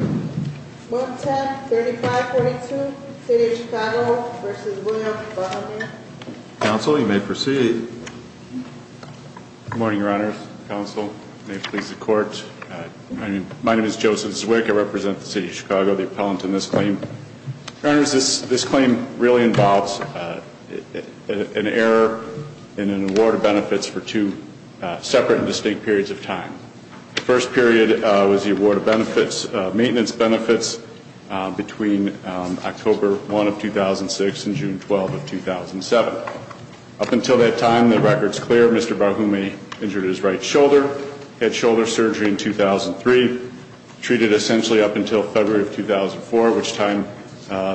110-3542, City of Chicago v. Williams, Baltimore. Counsel, you may proceed. Good morning, Your Honors. Counsel, may it please the Court. My name is Joseph Zwick. I represent the City of Chicago, the appellant in this claim. Your Honors, this claim really involves an error in an award of benefits for two separate and distinct periods of time. The first period was the award of maintenance benefits between October 1 of 2006 and June 12 of 2007. Up until that time, the record is clear. Mr. Barhume injured his right shoulder. He had shoulder surgery in 2003. Treated essentially up until February of 2004, which time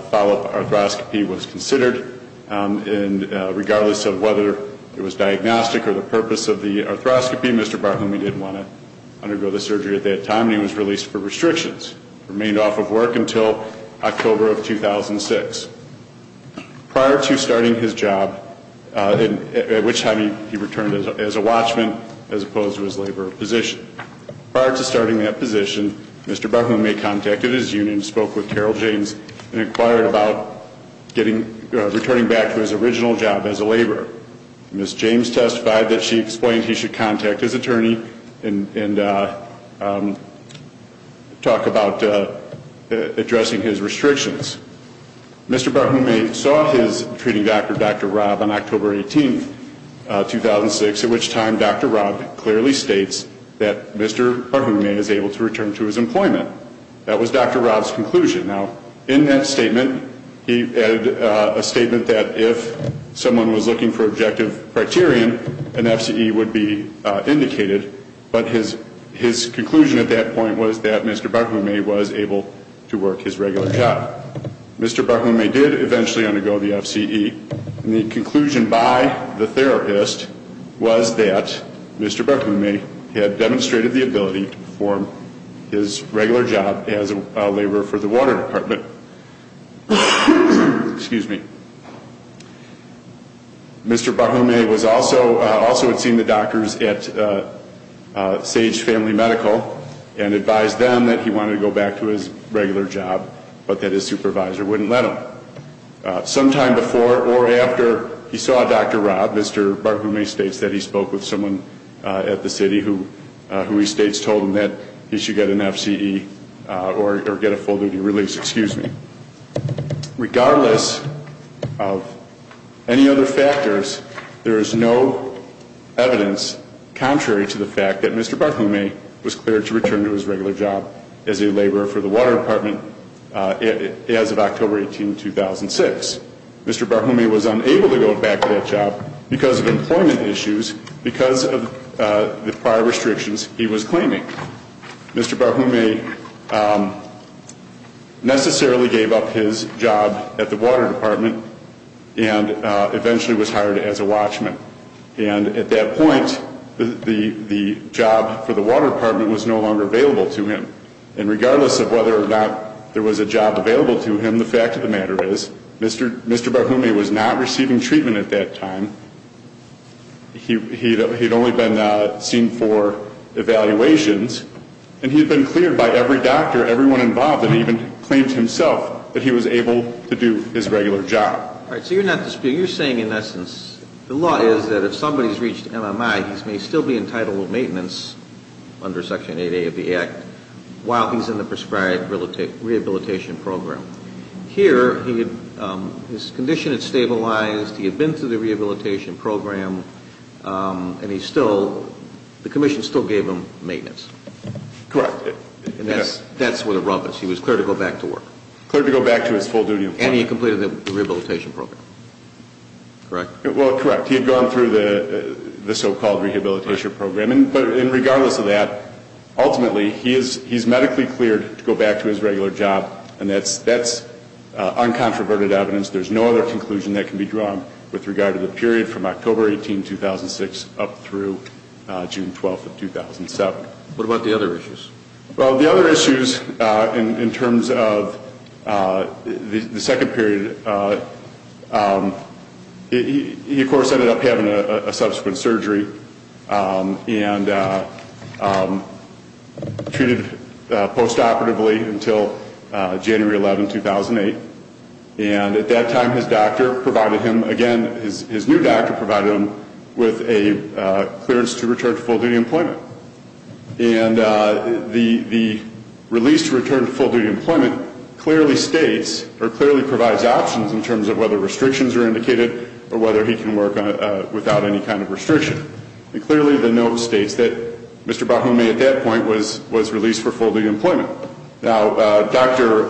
follow-up arthroscopy was considered. And regardless of whether it was diagnostic or the purpose of the arthroscopy, Mr. Barhume didn't want to undergo the surgery at that time, and he was released for restrictions. Remained off of work until October of 2006. Prior to starting his job, at which time he returned as a watchman, as opposed to his labor position. Prior to starting that position, Mr. Barhume contacted his union, spoke with Carol James, and inquired about returning back to his original job as a laborer. Ms. James testified that she explained he should contact his attorney and talk about addressing his restrictions. Mr. Barhume saw his treating doctor, Dr. Robb, on October 18, 2006, at which time Dr. Robb clearly states that Mr. Barhume is able to return to his employment. That was Dr. Robb's conclusion. Now, in that statement, he added a statement that if someone was looking for objective criterion, an FCE would be indicated, but his conclusion at that point was that Mr. Barhume was able to work his regular job. Mr. Barhume did eventually undergo the FCE. The conclusion by the therapist was that Mr. Barhume had demonstrated the ability to perform his regular job as a laborer for the water department. Excuse me. Mr. Barhume also had seen the doctors at Sage Family Medical and advised them that he wanted to go back to his regular job, but that his supervisor wouldn't let him. Sometime before or after he saw Dr. Robb, Mr. Barhume states that he spoke with someone at the city who he states told him that he should get an FCE or get a full duty release. Excuse me. Regardless of any other factors, there is no evidence contrary to the fact that Mr. Barhume was cleared to return to his regular job as a laborer for the water department as of October 18, 2006. Mr. Barhume was unable to go back to that job because of employment issues, because of the prior restrictions he was claiming. Mr. Barhume necessarily gave up his job at the water department and eventually was hired as a watchman. And at that point, the job for the water department was no longer available to him. And regardless of whether or not there was a job available to him, the fact of the matter is, Mr. Barhume was not receiving treatment at that time. He had only been seen for evaluations, and he had been cleared by every doctor, everyone involved, and even claimed himself that he was able to do his regular job. All right, so you're saying, in essence, the law is that if somebody's reached MMI, he may still be entitled to maintenance under Section 8A of the Act while he's in the prescribed rehabilitation program. Here, his condition had stabilized, he had been through the rehabilitation program, and the commission still gave him maintenance. Correct. And that's where the rub is. He was cleared to go back to work. Cleared to go back to his full duty employment. And he had completed the rehabilitation program, correct? Well, correct. He had gone through the so-called rehabilitation program. But regardless of that, ultimately, he's medically cleared to go back to his regular job, and that's uncontroverted evidence. There's no other conclusion that can be drawn with regard to the period from October 18, 2006, up through June 12 of 2007. What about the other issues? Well, the other issues in terms of the second period, he, of course, ended up having a subsequent surgery and treated post-operatively until January 11, 2008. And at that time, his doctor provided him, again, his new doctor provided him with a clearance to return to full duty employment. And the release to return to full duty employment clearly states or clearly provides options in terms of whether restrictions are indicated or whether he can work without any kind of restriction. And clearly, the note states that Mr. Bahome, at that point, was released for full duty employment. Now, Dr.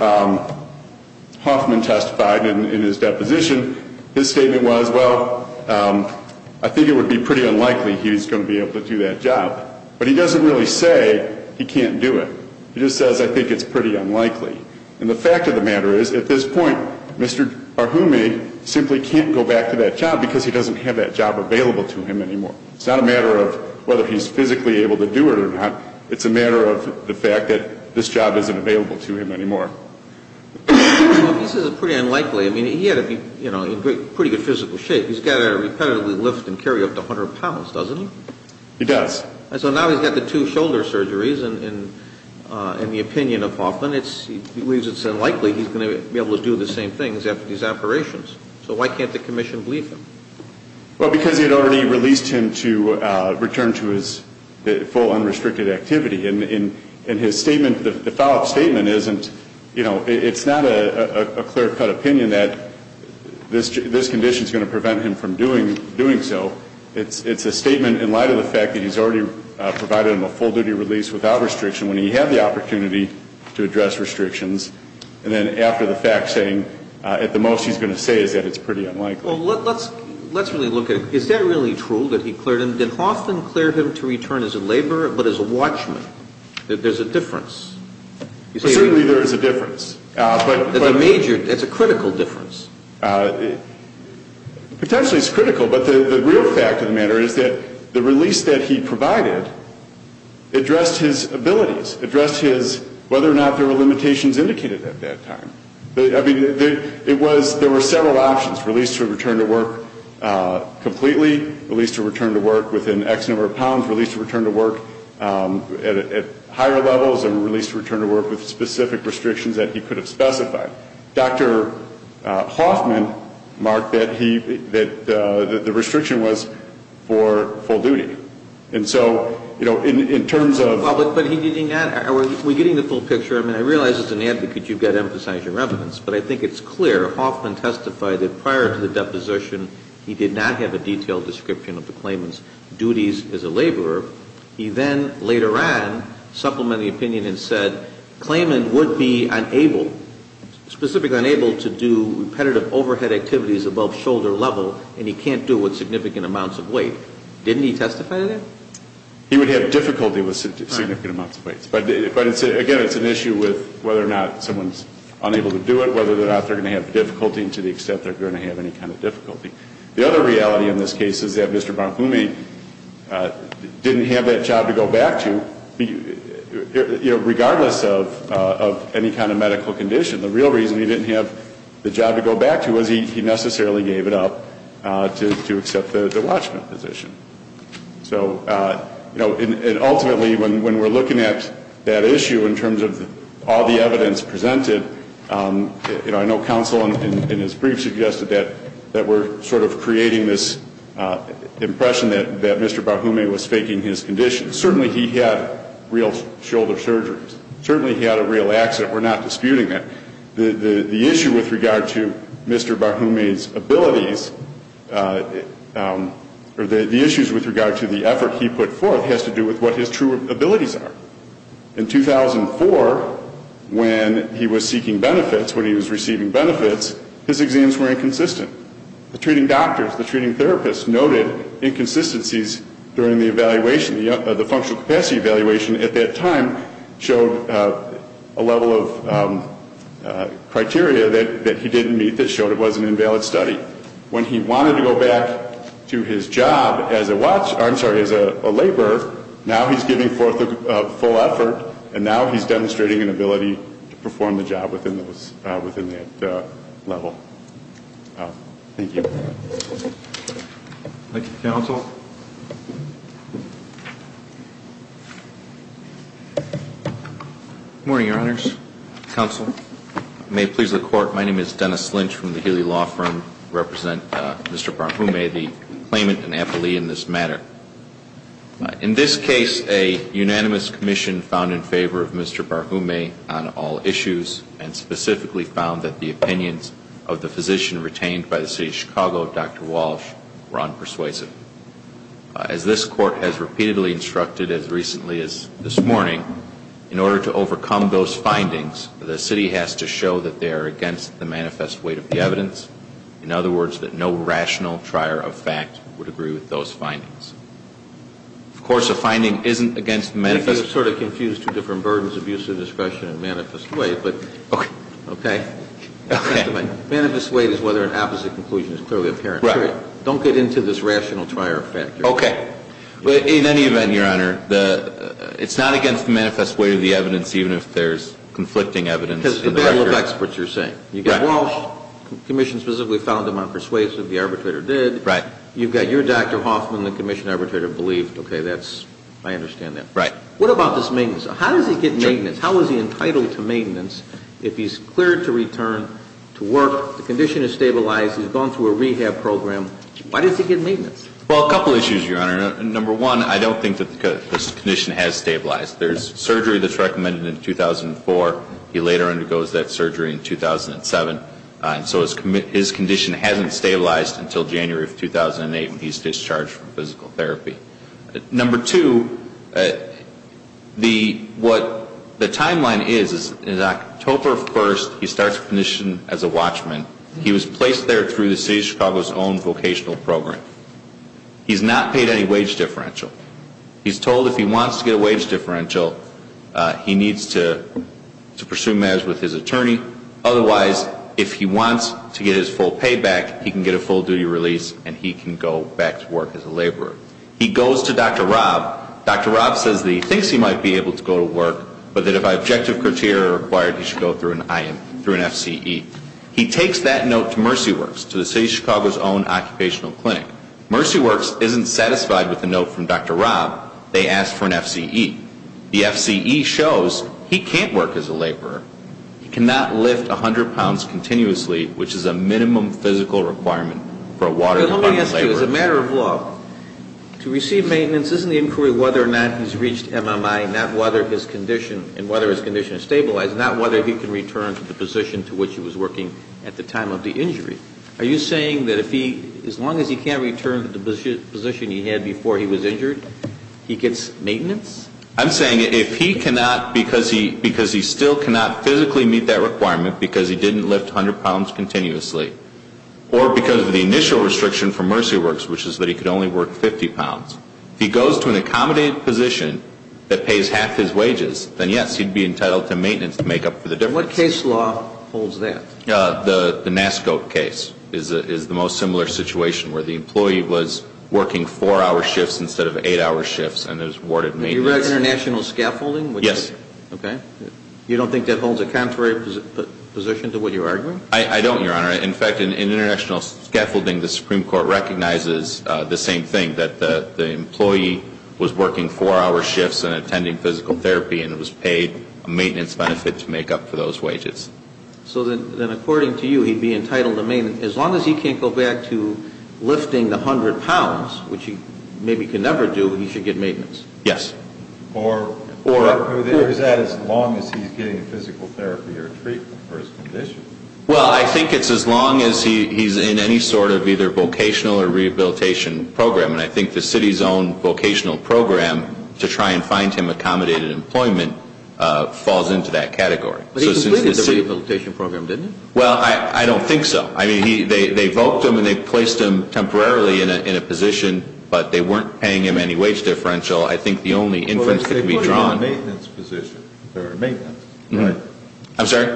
Hoffman testified in his deposition. His statement was, well, I think it would be pretty unlikely he's going to be able to do that job. But he doesn't really say he can't do it. He just says, I think it's pretty unlikely. And the fact of the matter is, at this point, Mr. Bahome simply can't go back to that job because he doesn't have that job available to him anymore. It's not a matter of whether he's physically able to do it or not. It's a matter of the fact that this job isn't available to him anymore. Well, he says it's pretty unlikely. I mean, he had to be in pretty good physical shape. He's got to repetitively lift and carry up to 100 pounds, doesn't he? He does. So now he's got the two shoulder surgeries. And the opinion of Hoffman, he believes it's unlikely he's going to be able to do the same things after these operations. So why can't the commission believe him? Well, because he had already released him to return to his full unrestricted activity. And his statement, the follow-up statement isn't, you know, it's not a clear-cut opinion that this condition is going to prevent him from doing so. It's a statement in light of the fact that he's already provided him a full-duty release without restriction when he had the opportunity to address restrictions. And then after the fact, saying at the most he's going to say is that it's pretty unlikely. Well, let's really look at it. Is that really true that he cleared him? He released him to return as a laborer but as a watchman. There's a difference. Certainly there is a difference. It's a major, it's a critical difference. Potentially it's critical, but the real fact of the matter is that the release that he provided addressed his abilities, addressed his whether or not there were limitations indicated at that time. I mean, it was, there were several options, release to return to work completely, release to return to work within X number of pounds, release to return to work at higher levels, and release to return to work with specific restrictions that he could have specified. Dr. Hoffman marked that he, that the restriction was for full duty. And so, you know, in terms of. But he did not, are we getting the full picture? I mean, I realize as an advocate you've got to emphasize your evidence, but I think it's clear Hoffman testified that prior to the deposition, he did not have a detailed description of the claimant's duties as a laborer. He then later on supplemented the opinion and said, claimant would be unable, specifically unable to do repetitive overhead activities above shoulder level, and he can't do it with significant amounts of weight. Didn't he testify to that? He would have difficulty with significant amounts of weights. But again, it's an issue with whether or not someone's unable to do it, whether or not they're going to have difficulty to the extent they're going to have any kind of difficulty. The other reality in this case is that Mr. Bonfumi didn't have that job to go back to, you know, regardless of any kind of medical condition. The real reason he didn't have the job to go back to was he necessarily gave it up to accept the watchman position. So, you know, and ultimately when we're looking at that issue in terms of all the evidence presented, you know, I know counsel in his brief suggested that we're sort of creating this impression that Mr. Bonfumi was faking his condition. Certainly he had real shoulder surgeries. Certainly he had a real accident. We're not disputing that. The issue with regard to Mr. Bonfumi's abilities, or the issues with regard to the effort he put forth, has to do with what his true abilities are. In 2004, when he was seeking benefits, when he was receiving benefits, his exams were inconsistent. The treating doctors, the treating therapists noted inconsistencies during the evaluation. The functional capacity evaluation at that time showed a level of criteria that he didn't meet that showed it was an invalid study. When he wanted to go back to his job as a laborer, now he's giving forth a full effort, and now he's demonstrating an ability to perform the job within that level. Thank you. Thank you, counsel. Good morning, Your Honors. Counsel. May it please the Court, my name is Dennis Lynch from the Healy Law Firm. I represent Mr. Barhume, the claimant and appellee in this matter. In this case, a unanimous commission found in favor of Mr. Barhume on all issues, and specifically found that the opinions of the physician retained by the City of Chicago, Dr. Walsh, were unpersuasive. As this Court has repeatedly instructed as recently as this morning, in order to overcome those findings, the City has to show that they are against the manifest weight of the evidence. In other words, that no rational trier of fact would agree with those findings. Of course, a finding isn't against the manifest weight. Okay. Okay? Okay. Manifest weight is whether an opposite conclusion is clearly apparent. Right. Don't get into this rational trier of fact. Okay. In any event, Your Honor, it's not against the manifest weight of the evidence, even if there's conflicting evidence in the record. Because they don't look experts, you're saying. Right. You've got Walsh, the commission specifically found him unpersuasive, the arbitrator did. Right. You've got your Dr. Hoffman, the commission arbitrator believed, okay, that's, I understand that. Right. What about this maintenance? How does he get maintenance? How is he entitled to maintenance if he's cleared to return to work, the condition is stabilized, he's gone through a rehab program? Why does he get maintenance? Well, a couple issues, Your Honor. Number one, I don't think that this condition has stabilized. There's surgery that's recommended in 2004. He later undergoes that surgery in 2007. So his condition hasn't stabilized until January of 2008 when he's discharged from physical therapy. Number two, what the timeline is, is October 1st, he starts commission as a watchman. He was placed there through the City of Chicago's own vocational program. He's not paid any wage differential. He's told if he wants to get a wage differential, he needs to pursue matters with his attorney. Otherwise, if he wants to get his full payback, he can get a full duty release and he can go back to work as a laborer. He goes to Dr. Rob. Dr. Rob says that he thinks he might be able to go to work, but that if objective criteria are required, he should go through an FCE. He takes that note to Mercy Works, to the City of Chicago's own occupational clinic. Mercy Works isn't satisfied with the note from Dr. Rob. They ask for an FCE. The FCE shows he can't work as a laborer. He cannot lift 100 pounds continuously, which is a minimum physical requirement for a water pump laborer. Let me ask you, as a matter of law, to receive maintenance, isn't the inquiry whether or not he's reached MMI, and whether his condition is stabilized, not whether he can return to the position to which he was working at the time of the injury? Are you saying that as long as he can't return to the position he had before he was injured, he gets maintenance? I'm saying if he cannot, because he still cannot physically meet that requirement because he didn't lift 100 pounds continuously, or because of the initial restriction from Mercy Works, which is that he could only work 50 pounds, if he goes to an accommodated position that pays half his wages, then yes, he'd be entitled to maintenance to make up for the difference. What case law holds that? The NASCO case is the most similar situation, where the employee was working 4-hour shifts instead of 8-hour shifts, and was awarded maintenance. You're talking about international scaffolding? Yes. Okay. You don't think that holds a contrary position to what you're arguing? I don't, Your Honor. In fact, in international scaffolding, the Supreme Court recognizes the same thing, that the employee was working 4-hour shifts and attending physical therapy, and was paid a maintenance benefit to make up for those wages. So then, according to you, he'd be entitled to maintenance, as long as he can't go back to lifting the 100 pounds, which he maybe can never do, but he should get maintenance? Yes. Or is that as long as he's getting physical therapy or treatment for his condition? Well, I think it's as long as he's in any sort of either vocational or rehabilitation program, and I think the city's own vocational program to try and find him accommodated employment falls into that category. But he completed the rehabilitation program, didn't he? Well, I don't think so. I mean, they voked him and they placed him temporarily in a position, but they weren't paying him any wage differential. I think the only inference that can be drawn. Well, they put him in a maintenance position, or a maintenance, right? I'm sorry?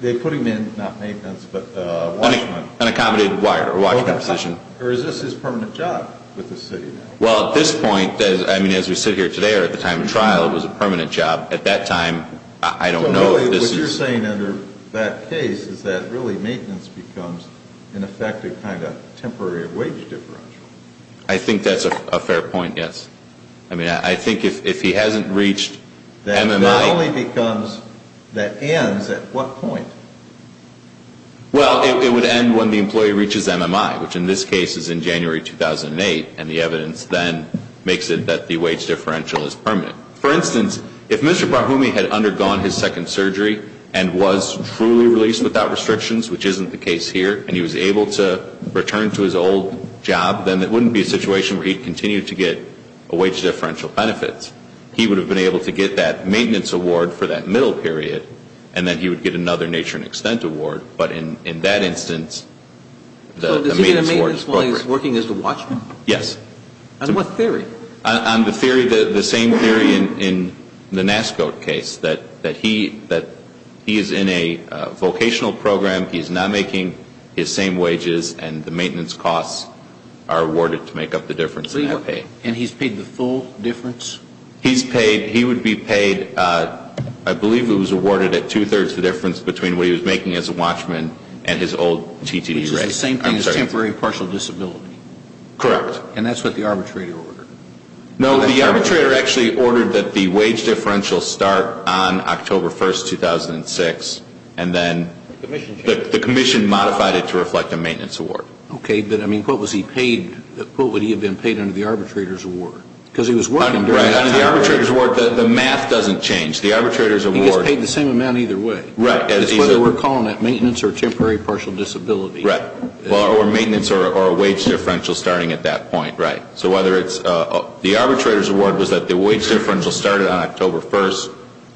They put him in, not maintenance, but a watchman. An accommodated watchman position. Or is this his permanent job with the city now? Well, at this point, I mean, as we sit here today or at the time of trial, it was a permanent job. At that time, I don't know. So what you're saying under that case is that really maintenance becomes an effective kind of temporary wage differential. I think that's a fair point, yes. I mean, I think if he hasn't reached MMI. That only becomes, that ends at what point? Well, it would end when the employee reaches MMI, which in this case is in January 2008, and the evidence then makes it that the wage differential is permanent. For instance, if Mr. Barhumi had undergone his second surgery and was truly released without restrictions, which isn't the case here, and he was able to return to his old job, then it wouldn't be a situation where he'd continue to get a wage differential benefit. He would have been able to get that maintenance award for that middle period, and then he would get another nature and extent award. But in that instance, the maintenance award is corporate. So does he get a maintenance while he's working as a watchman? Yes. On what theory? On the theory, the same theory in the NASCO case, that he is in a vocational program, he's not making his same wages, and the maintenance costs are awarded to make up the difference that he paid. And he's paid the full difference? He's paid, he would be paid, I believe it was awarded at two-thirds the difference between what he was making as a watchman and his old TTE rate. Which is the same thing as temporary partial disability. Correct. And that's what the arbitrator ordered? No, the arbitrator actually ordered that the wage differential start on October 1, 2006, and then the commission modified it to reflect a maintenance award. Okay, but I mean, what was he paid, what would he have been paid under the arbitrator's award? Because he was working during that time. Under the arbitrator's award, the math doesn't change. The arbitrator's award. He gets paid the same amount either way. Right. Whether we're calling that maintenance or temporary partial disability. Right. Or maintenance or a wage differential starting at that point. Right. So whether it's the arbitrator's award was that the wage differential started on October 1,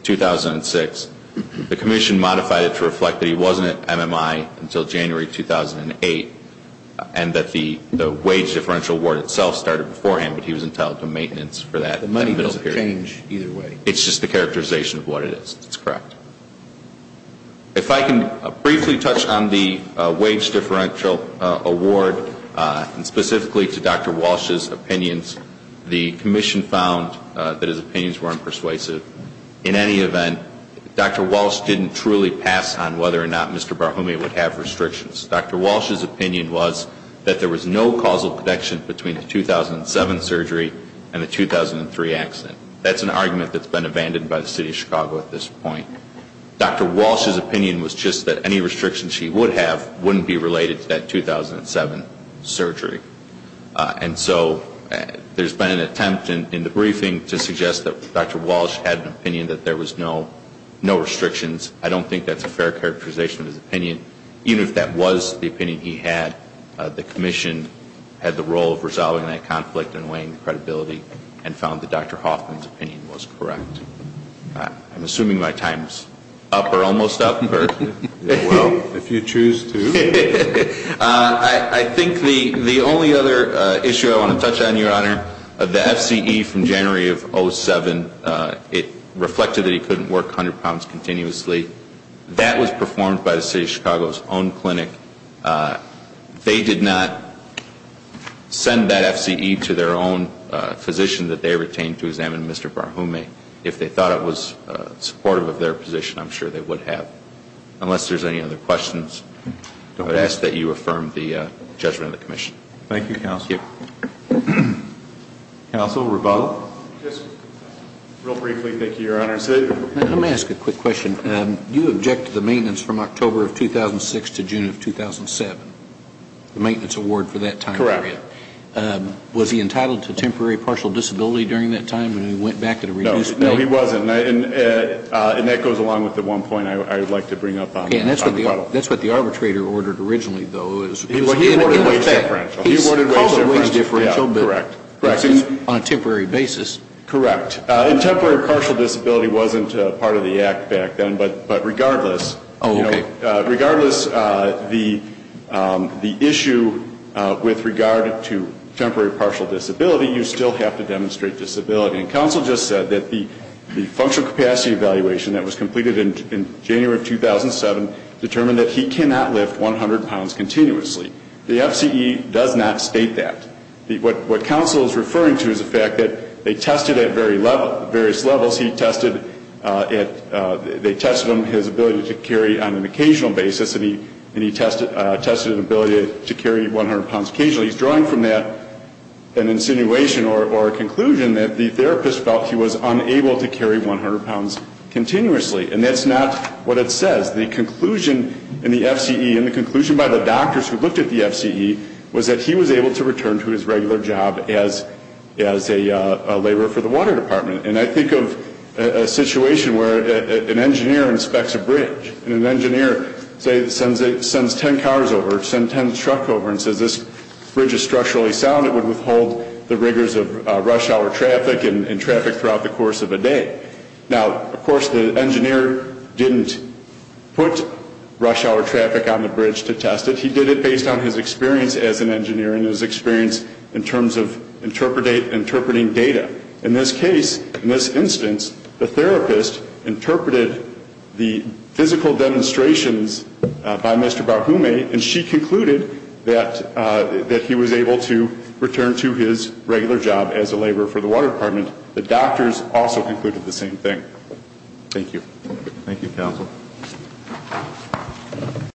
2006, the commission modified it to reflect that he wasn't at MMI until January 2008, and that the wage differential award itself started beforehand, but he was entitled to maintenance for that middle period. The money doesn't change either way. It's just the characterization of what it is. That's correct. If I can briefly touch on the wage differential award and specifically to Dr. Walsh's opinions, the commission found that his opinions weren't persuasive. In any event, Dr. Walsh didn't truly pass on whether or not Mr. Barhomey would have restrictions. Dr. Walsh's opinion was that there was no causal connection between the 2007 surgery and the 2003 accident. That's an argument that's been abandoned by the City of Chicago at this point. Dr. Walsh's opinion was just that any restrictions he would have wouldn't be related to that 2007 surgery. And so there's been an attempt in the briefing to suggest that Dr. Walsh had an opinion that there was no restrictions. I don't think that's a fair characterization of his opinion. Even if that was the opinion he had, the commission had the role of resolving that conflict and weighing the credibility and found that Dr. Hoffman's opinion was correct. I'm assuming my time is up or almost up. Well, if you choose to. I think the only other issue I want to touch on, Your Honor, of the FCE from January of 2007, it reflected that he couldn't work 100 pounds continuously. That was performed by the City of Chicago's own clinic. They did not send that FCE to their own physician that they retained to examine Mr. Barhume. If they thought it was supportive of their position, I'm sure they would have. Unless there's any other questions, I would ask that you affirm the judgment of the commission. Thank you, Counsel. Counsel, rebuttal? Just real briefly, thank you, Your Honor. Let me ask a quick question. You object to the maintenance from October of 2006 to June of 2007, the maintenance award for that time period. Correct. Was he entitled to temporary partial disability during that time when he went back to the reduced pay? No, he wasn't. And that goes along with the one point I would like to bring up on the rebuttal. That's what the arbitrator ordered originally, though. He ordered wage differential. He's called it wage differential, but on a temporary basis. Correct. And temporary partial disability wasn't part of the act back then, but regardless. Oh, okay. Regardless, the issue with regard to temporary partial disability, you still have to demonstrate disability. And Counsel just said that the functional capacity evaluation that was completed in January of 2007 determined that he cannot lift 100 pounds continuously. The FCE does not state that. What Counsel is referring to is the fact that they tested at various levels. They tested him, his ability to carry on an occasional basis, and he tested an ability to carry 100 pounds occasionally. He's drawing from that an insinuation or a conclusion that the therapist felt he was unable to carry 100 pounds continuously. And that's not what it says. The conclusion in the FCE and the conclusion by the doctors who looked at the FCE was that he was able to return to his regular job as a laborer for the water department. And I think of a situation where an engineer inspects a bridge, and an engineer, say, sends 10 cars over, sends 10 trucks over and says, this bridge is structurally sound, it would withhold the rigors of rush hour traffic and traffic throughout the course of a day. Now, of course, the engineer didn't put rush hour traffic on the bridge to test it. He did it based on his experience as an engineer and his experience in terms of interpreting data. In this case, in this instance, the therapist interpreted the physical demonstrations by Mr. Barhume, and she concluded that he was able to return to his regular job as a laborer for the water department. The doctors also concluded the same thing. Thank you. Thank you, Counsel.